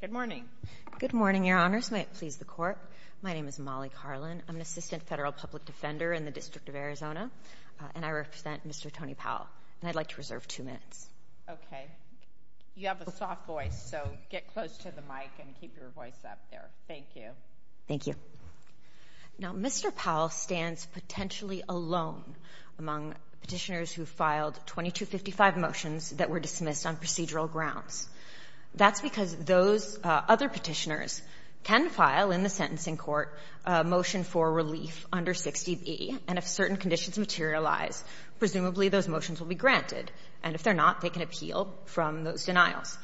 Good morning. Good morning, Your Honors. May it please the Court. My name is Molly Carlin. I'm an Assistant Federal Public Defender in the District of Arizona, and I represent Mr. Tony Powell. And I'd like to reserve two minutes. Okay. You have a soft voice, so get close to the mic and keep your voice up there. Thank you. Thank you. Now, Mr. Powell stands potentially alone among petitioners who filed 2255 motions that were dismissed on procedural grounds. That's because of the fact that he's a member of the House of Representatives. Those other petitioners can file in the sentencing court a motion for relief under 60B, and if certain conditions materialize, presumably those motions will be granted. And if they're not, they can appeal from those denials.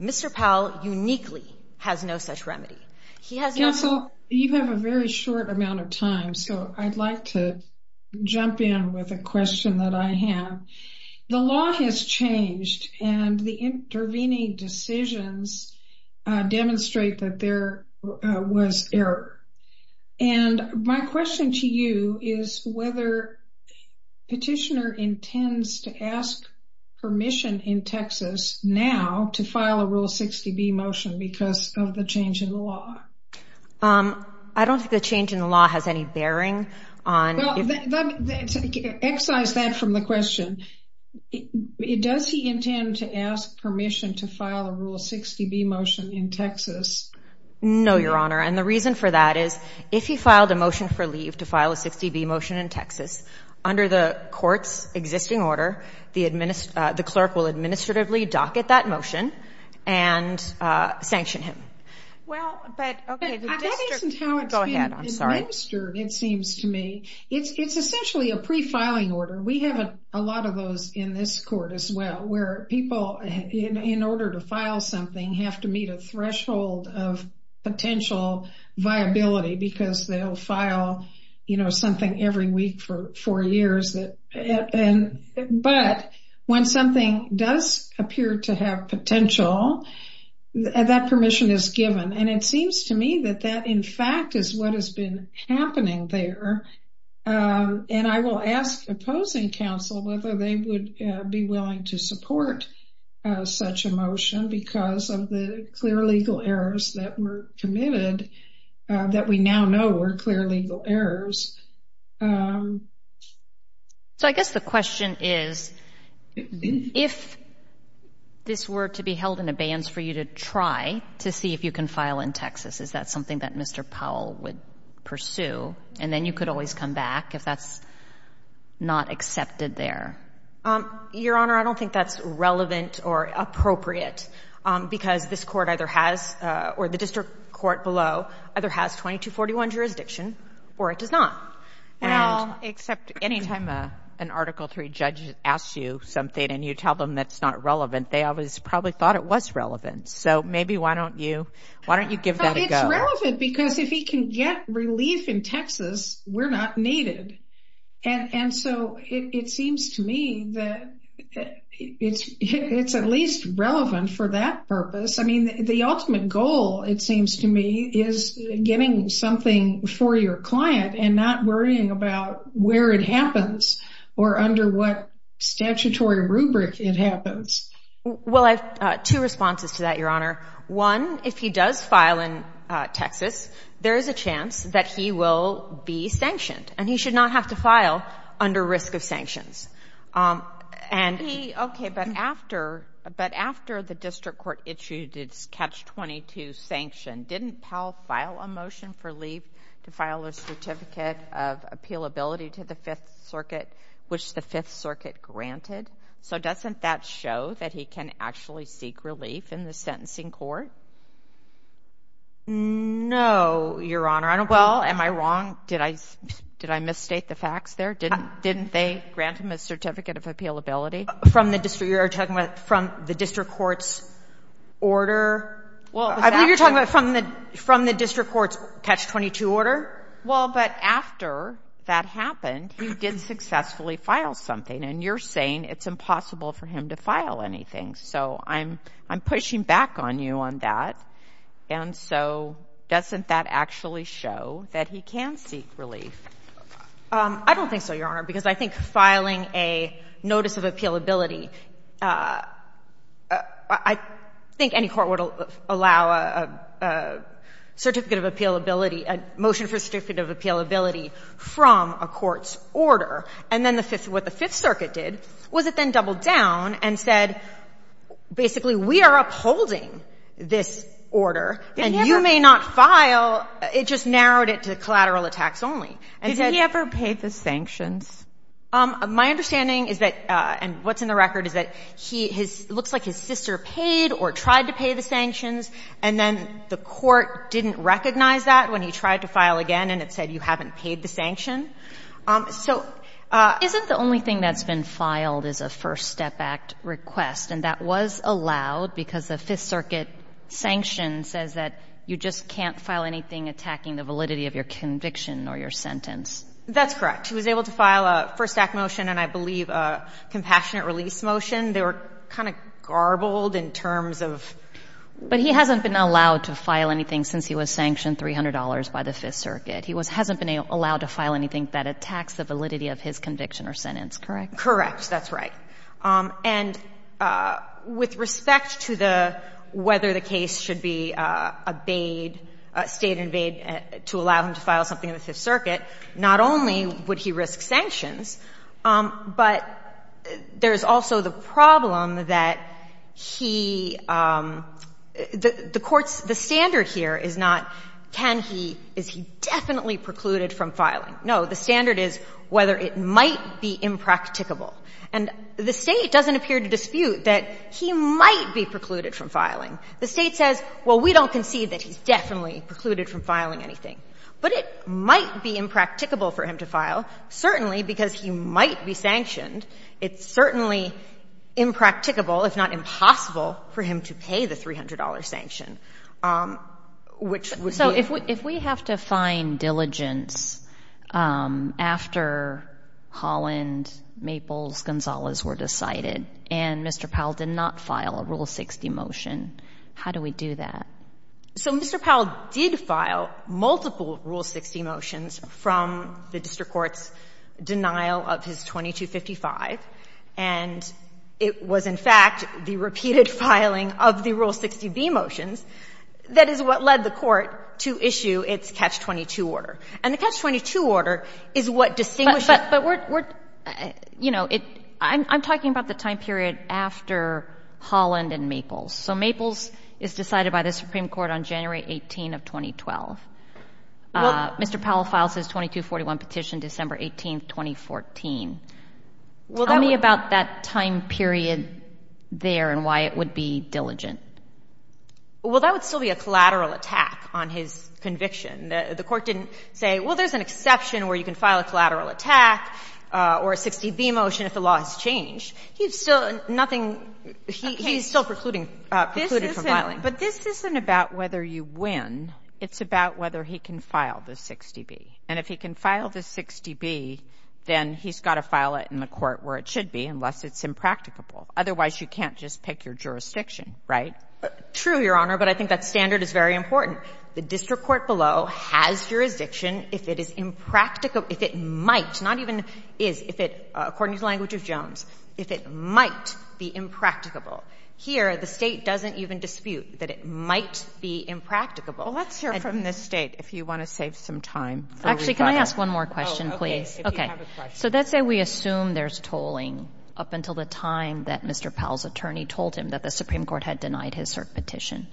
Mr. Powell uniquely has no such remedy. He has no— Counsel, you have a very short amount of time, so I'd like to jump in with a question that I have. The law has changed, and the intervening decisions demonstrate that there was error. And my question to you is whether Petitioner intends to ask permission in Texas now to file a Rule 60B motion because of the change in the law. I don't think the change in the law has any bearing on— Well, excise that from the question. Does he intend to ask permission to file a Rule 60B motion in Texas? No, Your Honor, and the reason for that is if he filed a motion for leave to file a 60B motion in Texas, under the court's existing order, the clerk will administratively docket that motion and sanction him. Well, but— Okay, the district— But that isn't how it's been— Go ahead. I'm sorry. Well, it's been administered, it seems to me. It's essentially a pre-filing order. We have a lot of those in this court as well, where people, in order to file something, have to meet a threshold of potential viability because they'll file, you know, something every week for four years. But when something does appear to have potential, that permission is given, and it seems to me that that, in fact, is what has been happening there. And I will ask opposing counsel whether they would be willing to support such a motion because of the clear legal errors that were committed that we now know were clear legal errors. So I guess the question is, if this were to be held in abeyance for you to try to see if you can file in Texas, is that something that Mr. Powell would pursue? And then you could always come back if that's not accepted there. Your Honor, I don't think that's relevant or appropriate because this court either has — or the district court below either has 2241 jurisdiction or it does not. Well, except any time an Article III judge asks you something and you tell them that's not relevant, they always probably thought it was relevant. So maybe why don't you — why don't you give that a go? It's relevant because if he can get relief in Texas, we're not needed. And so it seems to me that it's at least relevant for that purpose. I mean, the ultimate goal, it seems to me, is getting something for your client and not worrying about where it happens or under what statutory rubric it happens. Well, I have two responses to that, Your Honor. One, if he does file in Texas, there is a chance that he will be sanctioned, and he should not have to file under risk of sanctions. And he — But after — but after the district court issued its Catch-22 sanction, didn't Powell file a motion for leave to file a Certificate of Appealability to the Fifth Circuit, which the Fifth Circuit granted? So doesn't that show that he can actually seek relief in the sentencing court? No, Your Honor. Well, am I wrong? Did I — did I misstate the facts there? Didn't they grant him a Certificate of Appealability? From the district — you're talking about from the district court's order? Well, it was — I believe you're talking about from the — from the district court's Catch-22 order? Well, but after that happened, he did successfully file something. And you're saying it's impossible for him to file anything. So I'm — I'm pushing back on you on that. And so doesn't that actually show that he can seek relief? I don't think so, Your Honor, because I think filing a Notice of Appealability — I think any court would allow a Certificate of Appealability — a motion for Certificate of Appealability from a court's order. And then the fifth — what the Fifth Circuit did was it then doubled down and said, basically, we are upholding this order, and you may not file. It just narrowed it to collateral attacks only and said — Did he ever pay the sanctions? My understanding is that — and what's in the record is that he — his — it looks like his sister paid or tried to pay the sanctions, and then the court didn't recognize that when he tried to file again, and it said, you haven't paid the sanction. So — Isn't the only thing that's been filed is a First Step Act request, and that was allowed because the Fifth Circuit sanction says that you just can't file anything attacking the validity of your conviction or your sentence? That's correct. He was able to file a First Act motion and, I believe, a Compassionate Release motion. They were kind of garbled in terms of — But he hasn't been allowed to file anything since he was sanctioned $300 by the Fifth Circuit. He hasn't been allowed to file anything that attacks the validity of his conviction or sentence, correct? Correct. That's right. And with respect to the — whether the case should be obeyed, stayed and obeyed to allow him to file something with the Fifth Circuit, not only would he risk sanctions, but there's also the problem that he — the court's — the standard here is not, can he — is he definitely precluded from filing? No. The standard is whether it might be impracticable. And the State doesn't appear to dispute that he might be precluded from filing. The State says, well, we don't concede that he's definitely precluded from filing anything. But it might be impracticable for him to file, certainly because he might be sanctioned. It's certainly impracticable, if not impossible, for him to pay the $300 sanction, which would be — So if we have to find diligence after Holland, Maples, Gonzalez were decided, and Mr. Powell did not file a Rule 60 motion, how do we do that? So Mr. Powell did file multiple Rule 60 motions from the district court's denial of his 2255. And it was, in fact, the repeated filing of the Rule 60b motions that is what led the court to issue its Catch-22 order. And the Catch-22 order is what distinguishes — But we're — you know, I'm talking about the time period after Holland and Maples. So Maples is decided by the Supreme Court on January 18 of 2012. Mr. Powell files his 2241 petition December 18, 2014. Well, that would — Tell me about that time period there and why it would be diligent. Well, that would still be a collateral attack on his conviction. The court didn't say, well, there's an exception where you can file a collateral attack or a 60b motion if the law has changed. He's still — nothing — he's still precluding — precluded from filing. But this isn't about whether you win. It's about whether he can file the 60b. And if he can file the 60b, then he's got to file it in the court where it should be unless it's impracticable. Otherwise, you can't just pick your jurisdiction, right? True, Your Honor, but I think that standard is very important. The district court below has jurisdiction if it is impracticable — if it might, not even is, if it — according to the language of Jones, if it might be impracticable. Here, the State doesn't even dispute that it might be impracticable. Let's hear from the State if you want to save some time. Actually, can I ask one more question, please? Okay. So let's say we assume there's tolling up until the time that Mr. Powell's attorney told him that the Supreme Court had denied his cert petition.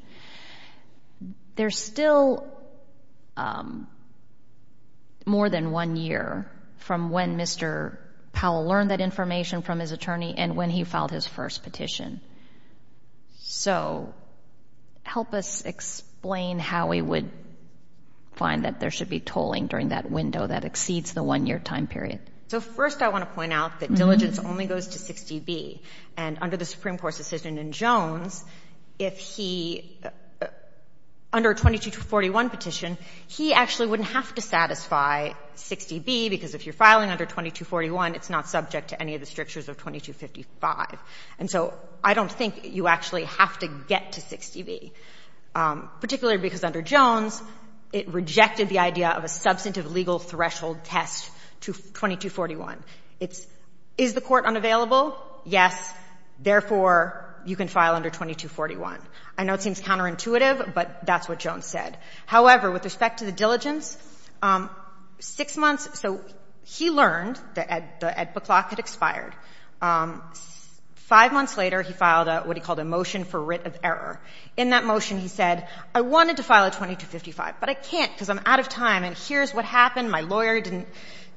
There's still more than one year from when Mr. Powell learned that information from his attorney and when he filed his first petition. So help us explain how we would find that there should be tolling during that window that exceeds the one-year time period. So first, I want to point out that diligence only goes to 60b. And under the Supreme Court's decision in Jones, if he — under a 2241 petition, he actually wouldn't have to satisfy 60b because if you're filing under 2241, it's not subject to any of the strictures of 2255. And so I don't think you actually have to get to 60b, particularly because under Jones, it rejected the idea of a substantive legal threshold test to 2241. It's, is the court unavailable? Yes. Therefore, you can file under 2241. I know it seems counterintuitive, but that's what Jones said. However, with respect to the diligence, six months — so he learned that the EDPA clock had expired. Five months later, he filed what he called a motion for writ of error. In that motion, he said, I wanted to file a 2255, but I can't because I'm out of time, and here's what happened. My lawyer didn't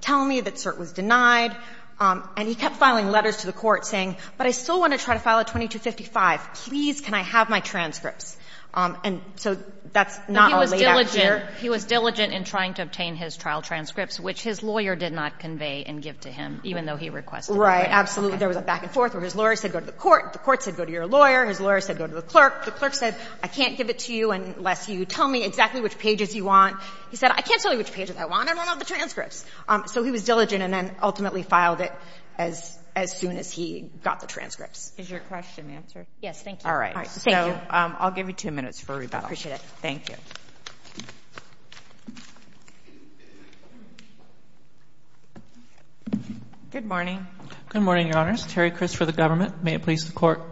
tell me that cert was denied. And he kept filing letters to the court saying, but I still want to try to file a 2255. Please, can I have my transcripts? And so that's not all laid out here. But he was diligent — he was diligent in trying to obtain his trial transcripts, which his lawyer did not convey and give to him, even though he requested it. Absolutely. There was a back and forth where his lawyer said, go to the court. The court said, go to your lawyer. His lawyer said, go to the clerk. The clerk said, I can't give it to you unless you tell me exactly which pages you want. He said, I can't tell you which pages I want. I want all the transcripts. So he was diligent and then ultimately filed it as, as soon as he got the transcripts. Is your question answered? Yes. Thank you. All right. Thank you. I'll give you two minutes for rebuttal. I appreciate it. Thank you. Good morning. Good morning, Your Honors. Terry Criss for the government. May it please the court.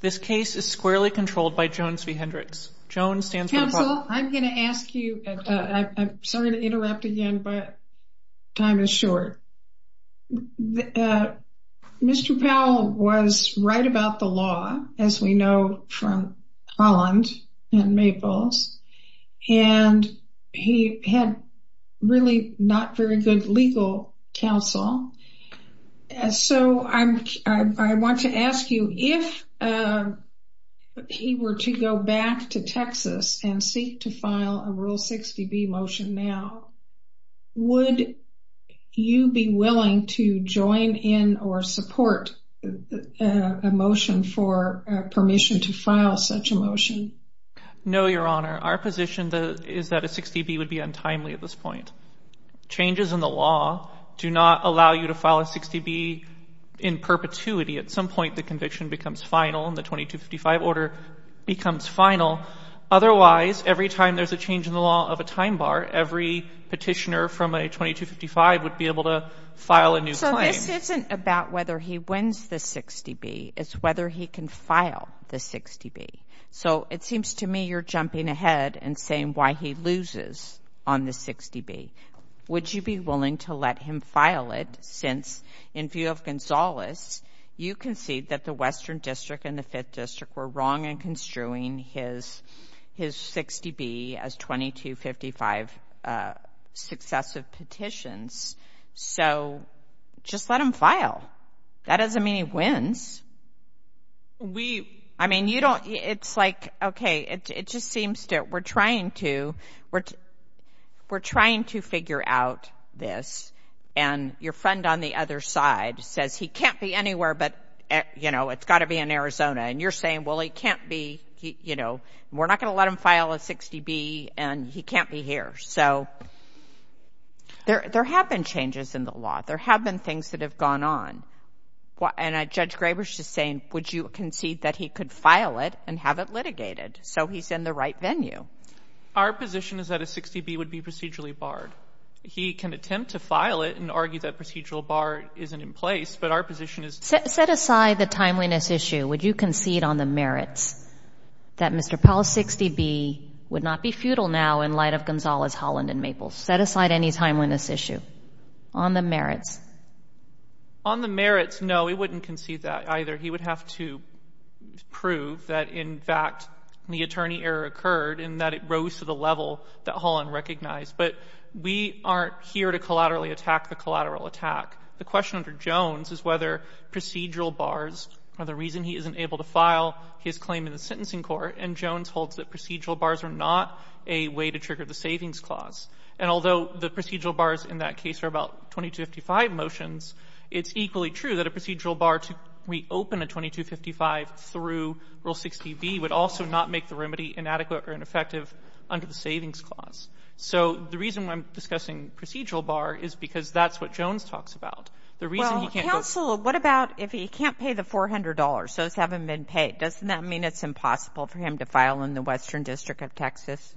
This case is squarely controlled by Jones v. Hendricks. Jones stands for the — Counsel, I'm going to ask you — I'm sorry to interrupt again, but time is short. Mr. Powell was right about the law, as we know from Holland and Maples. And he had really not very good legal counsel. So I want to ask you, if he were to go back to Texas and seek to file a Rule 60B motion now, would you be willing to join in or support a motion for permission to file such a motion? No, Your Honor. Our position is that a 60B would be untimely at this point. Changes in the law do not allow you to file a 60B in perpetuity. At some point, the conviction becomes final and the 2255 order becomes final. Otherwise, every time there's a change in the law of a time bar, every petitioner from a 2255 would be able to file a new claim. So this isn't about whether he wins the 60B. It's whether he can file the 60B. So it seems to me you're jumping ahead and saying why he loses on the 60B. Would you be willing to let him file it? Since, in view of Gonzales, you concede that the Western District and the Fifth District were wrong in construing his 60B as 2255 successive petitions. So just let him file. That doesn't mean he wins. We, I mean, you don't, it's like, okay, it just seems that we're trying to, we're trying to figure out this. And your friend on the other side says he can't be anywhere but, you know, it's got to be in Arizona. And you're saying, well, he can't be, you know, we're not going to let him file a 60B and he can't be here. So there have been changes in the law. There have been things that have gone on. And Judge Graber's just saying, would you concede that he could file it and have it litigated? So he's in the right venue. Our position is that a 60B would be procedurally barred. He can attempt to file it and argue that procedural bar isn't in place, but our position is... Set aside the timeliness issue. Would you concede on the merits that Mr. Powell's 60B would not be futile now in light of Gonzales, Holland, and Maples? Set aside any timeliness issue on the merits. On the merits, no, he wouldn't concede that either. He would have to prove that, in fact, the attorney error occurred and that it rose to the level that Holland recognized. But we aren't here to collaterally attack the collateral attack. The question under Jones is whether procedural bars are the reason he isn't able to file his claim in the sentencing court. And Jones holds that procedural bars are not a way to trigger the savings clause. And although the procedural bars in that case are about 2255, it's equally true that a procedural bar to reopen a 2255 through Rule 60B would also not make the remedy inadequate or ineffective under the savings clause. So the reason why I'm discussing procedural bar is because that's what Jones talks about. The reason he can't... Counsel, what about if he can't pay the $400, so it's haven't been paid? Doesn't that mean it's impossible for him to file in the Western District of Texas?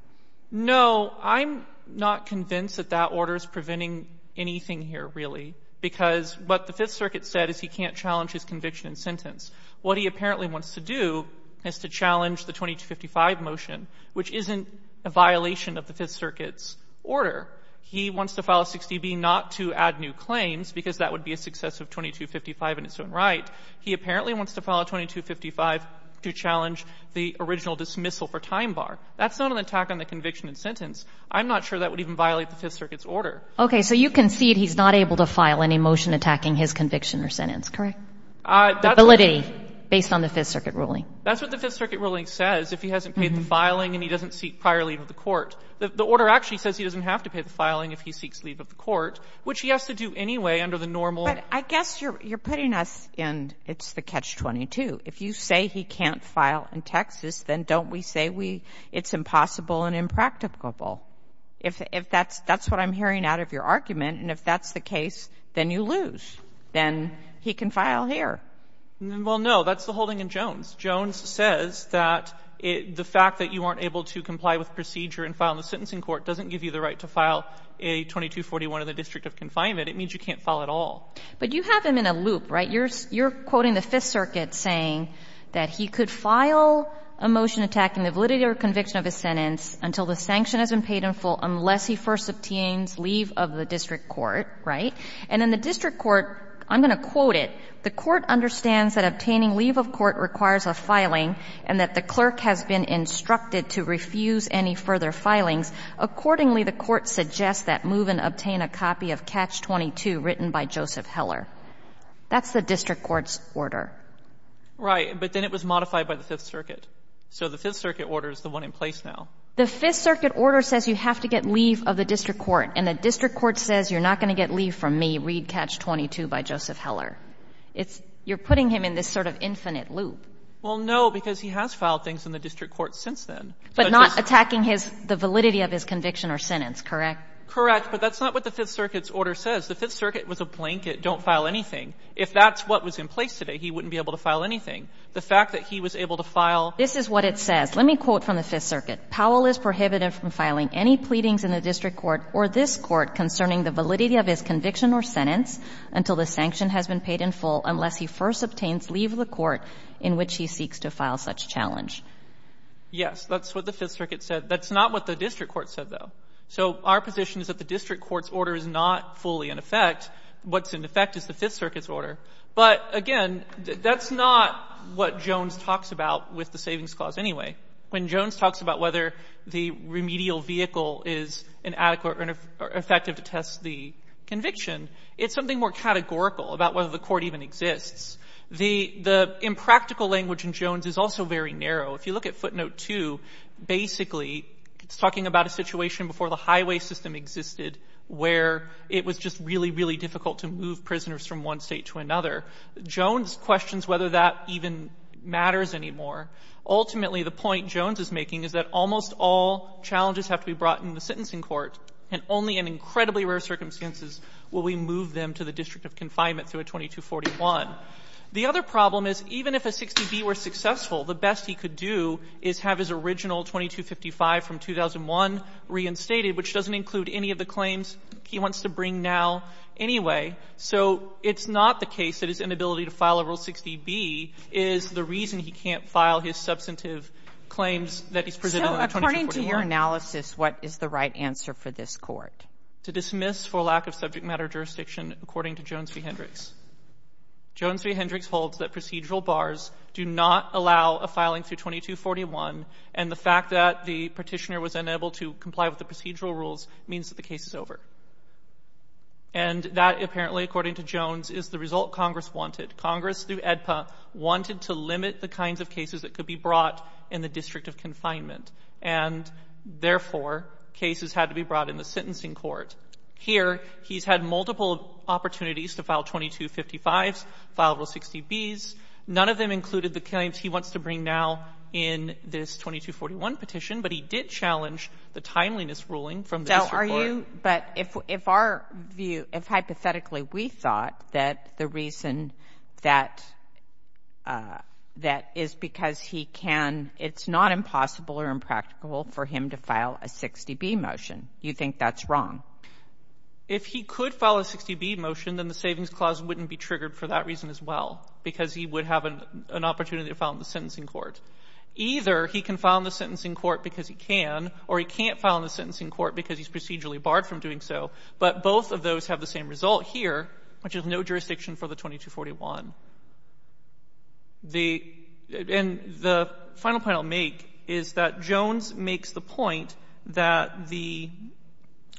No, I'm not convinced that that order is preventing anything here, really. Because what the Fifth Circuit said is he can't challenge his conviction and sentence. What he apparently wants to do is to challenge the 2255 motion, which isn't a violation of the Fifth Circuit's order. He wants to file a 60B not to add new claims, because that would be a success of 2255 in its own right. He apparently wants to file a 2255 to challenge the original dismissal for time bar. That's not an attack on the conviction and sentence. I'm not sure that would even violate the Fifth Circuit's order. Okay. So you concede he's not able to file any motion attacking his conviction or sentence, correct? The validity, based on the Fifth Circuit ruling. That's what the Fifth Circuit ruling says. If he hasn't paid the filing and he doesn't seek prior leave of the court. The order actually says he doesn't have to pay the filing if he seeks leave of the court, which he has to do anyway under the normal... But I guess you're putting us in, it's the catch-22. If you say he can't file in Texas, then don't we say it's impossible and impracticable? If that's what I'm hearing out of your argument, and if that's the case, then you lose. Then he can file here. Well, no. That's the holding in Jones. Jones says that the fact that you weren't able to comply with procedure and file in the sentencing court doesn't give you the right to file a 2241 in the district of confinement. It means you can't file at all. But you have him in a loop, right? You're quoting the Fifth Circuit saying that he could file a motion attacking the validity or conviction of his sentence until the sanction has been paid in full unless he first obtains leave of the district court, right? And in the district court, I'm going to quote it, the court understands that obtaining leave of court requires a filing and that the clerk has been instructed to refuse any further filings. Accordingly, the court suggests that move and obtain a copy of catch-22 written by Joseph Heller. That's the district court's order. Right. But then it was modified by the Fifth Circuit. So the Fifth Circuit order is the one in place now. The Fifth Circuit order says you have to get leave of the district court, and the district court says you're not going to get leave from me, read catch-22 by Joseph Heller. It's you're putting him in this sort of infinite loop. Well, no, because he has filed things in the district court since then. But not attacking his the validity of his conviction or sentence, correct? Correct. But that's not what the Fifth Circuit's order says. The Fifth Circuit was a blanket, don't file anything. If that's what was in place today, he wouldn't be able to file anything. The fact that he was able to file This is what it says. Let me quote from the Fifth Circuit. Powell is prohibited from filing any pleadings in the district court or this court concerning the validity of his conviction or sentence until the sanction has been paid in full unless he first obtains leave of the court in which he seeks to file such challenge. Yes. That's what the Fifth Circuit said. That's not what the district court said, though. So our position is that the district court's order is not fully in effect. What's in effect is the Fifth Circuit's order. But, again, that's not what Jones talks about with the Savings Clause anyway. When Jones talks about whether the remedial vehicle is inadequate or ineffective to test the conviction, it's something more categorical about whether the court even exists. The impractical language in Jones is also very narrow. If you look at footnote two, basically, it's talking about a situation before the highway system existed where it was just really, really difficult to move prisoners from one state to another. Jones questions whether that even matters anymore. Ultimately, the point Jones is making is that almost all challenges have to be brought in the sentencing court, and only in incredibly rare circumstances will we move them to the district of confinement through a 2241. The other problem is even if a 60B were successful, the best he could do is have his original 2255 from 2001 reinstated, which doesn't include any of the claims he wants to bring now anyway. So it's not the case that his inability to file a Rule 60B is the reason he can't file his substantive claims that he's presented on the 2241. So according to your analysis, what is the right answer for this Court? To dismiss for lack of subject matter jurisdiction according to Jones v. Hendricks. Jones v. Hendricks holds that procedural bars do not allow a filing through 2241, and the fact that the Petitioner was unable to comply with the procedural rules means that the case is over. And that apparently, according to Jones, is the result Congress wanted. Congress, through AEDPA, wanted to limit the kinds of cases that could be brought in the district of confinement, and therefore, cases had to be brought in the sentencing court. Here, he's had multiple opportunities to file 2255s, file Rule 60Bs. None of them included the claims he wants to bring now in this 2241 petition, but he did challenge the timeliness ruling from the district court. But if our view, if hypothetically we thought that the reason that is because he can, it's not impossible or impractical for him to file a 60B motion, you think that's wrong? If he could file a 60B motion, then the Savings Clause wouldn't be triggered for that reason as well, because he would have an opportunity to file in the sentencing court. Either he can file in the sentencing court because he can, or he can't file in the district court because he's procedurally barred from doing so. But both of those have the same result here, which is no jurisdiction for the 2241. The final point I'll make is that Jones makes the point that the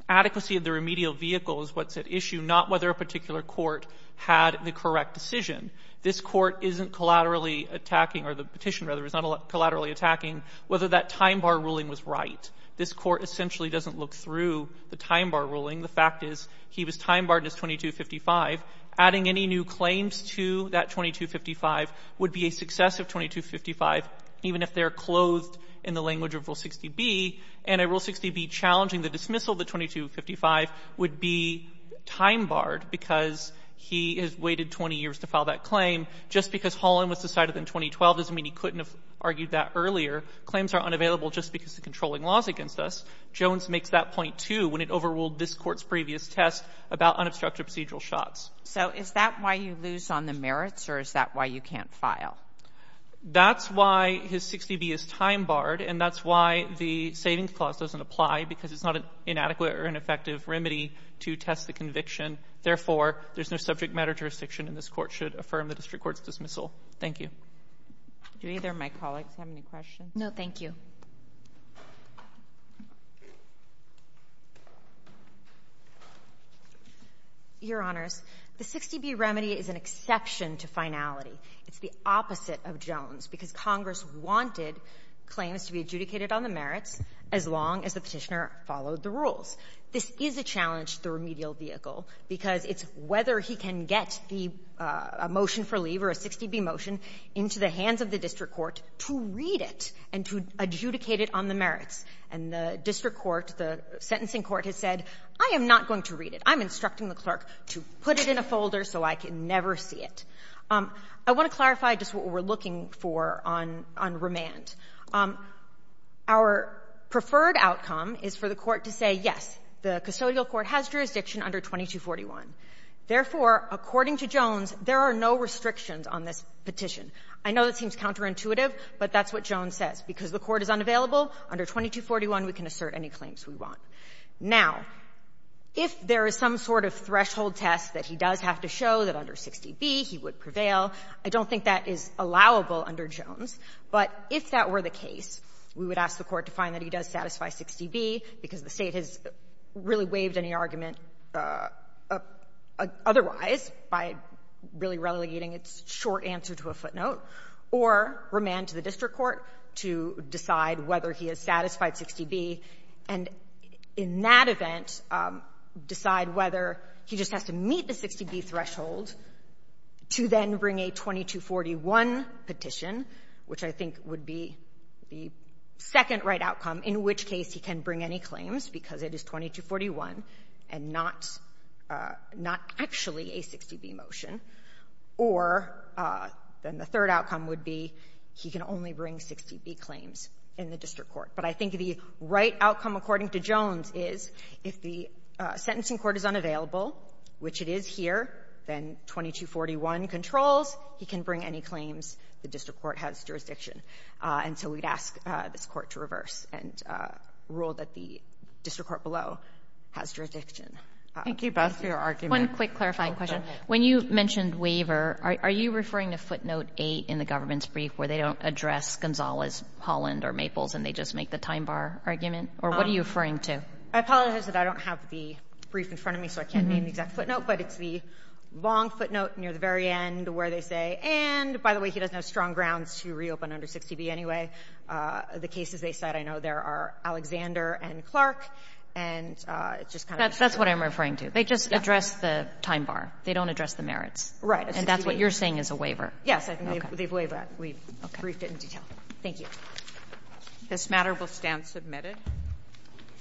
adequacy of the remedial vehicle is what's at issue, not whether a particular court had the correct decision. This court isn't collaterally attacking, or the petition, rather, is not collaterally attacking whether that time bar ruling was right. This court essentially doesn't look through the time bar ruling. The fact is he was time barred in his 2255. Adding any new claims to that 2255 would be a success of 2255, even if they are clothed in the language of Rule 60B. And a Rule 60B challenging the dismissal of the 2255 would be time barred because he has waited 20 years to file that claim. Just because Holland was decided in 2012 doesn't mean he couldn't have argued that earlier. Claims are unavailable just because the controlling laws against us. Jones makes that point, too, when it overruled this court's previous test about unobstructed procedural shots. So is that why you lose on the merits, or is that why you can't file? That's why his 60B is time barred, and that's why the savings clause doesn't apply because it's not an inadequate or ineffective remedy to test the conviction. Therefore, there's no subject matter jurisdiction, and this court should affirm the district court's dismissal. Thank you. Do either of my colleagues have any questions? No, thank you. Your Honors, the 60B remedy is an exception to finality. It's the opposite of Jones because Congress wanted claims to be adjudicated on the merits as long as the Petitioner followed the rules. This is a challenge to the remedial vehicle because it's whether he can get a motion for leave or a 60B motion into the hands of the district court to read it. And to adjudicate it on the merits. And the district court, the sentencing court, has said, I am not going to read it. I'm instructing the clerk to put it in a folder so I can never see it. I want to clarify just what we're looking for on remand. Our preferred outcome is for the court to say, yes, the custodial court has jurisdiction under 2241. Therefore, according to Jones, there are no restrictions on this petition. I know that seems counterintuitive, but that's what Jones says. Because the court is unavailable, under 2241 we can assert any claims we want. Now, if there is some sort of threshold test that he does have to show that under 60B he would prevail, I don't think that is allowable under Jones. But if that were the case, we would ask the court to find that he does satisfy 60B because the State has really waived any argument otherwise by really relegating its short answer to a footnote, or remand to the district court to decide whether he has satisfied 60B, and in that event decide whether he just has to meet the 60B threshold to then bring a 2241 petition, which I think would be the second right outcome, in which case he can bring any claims because it is 2241 and not actually a 60B motion. Or then the third outcome would be he can only bring 60B claims in the district court. But I think the right outcome, according to Jones, is if the sentencing court is unavailable, which it is here, then 2241 controls, he can bring any claims the district court has jurisdiction. And so we'd ask this court to reverse and rule that the district court below has jurisdiction. Thank you both for your argument. One quick clarifying question. When you mentioned waiver, are you referring to footnote 8 in the government's brief where they don't address Gonzales, Holland, or Maples, and they just make the time bar argument? Or what are you referring to? I apologize that I don't have the brief in front of me, so I can't name the exact footnote. But it's the long footnote near the very end where they say, and by the way, he doesn't have strong grounds to reopen under 60B anyway. The cases they cite, I know there are Alexander and Clark, and it's just kind of That's what I'm referring to. They just address the time bar. They don't address the merits. And that's what you're saying is a waiver. Yes, I think they've waived that. We briefed it in detail. Thank you. This matter will stand submitted.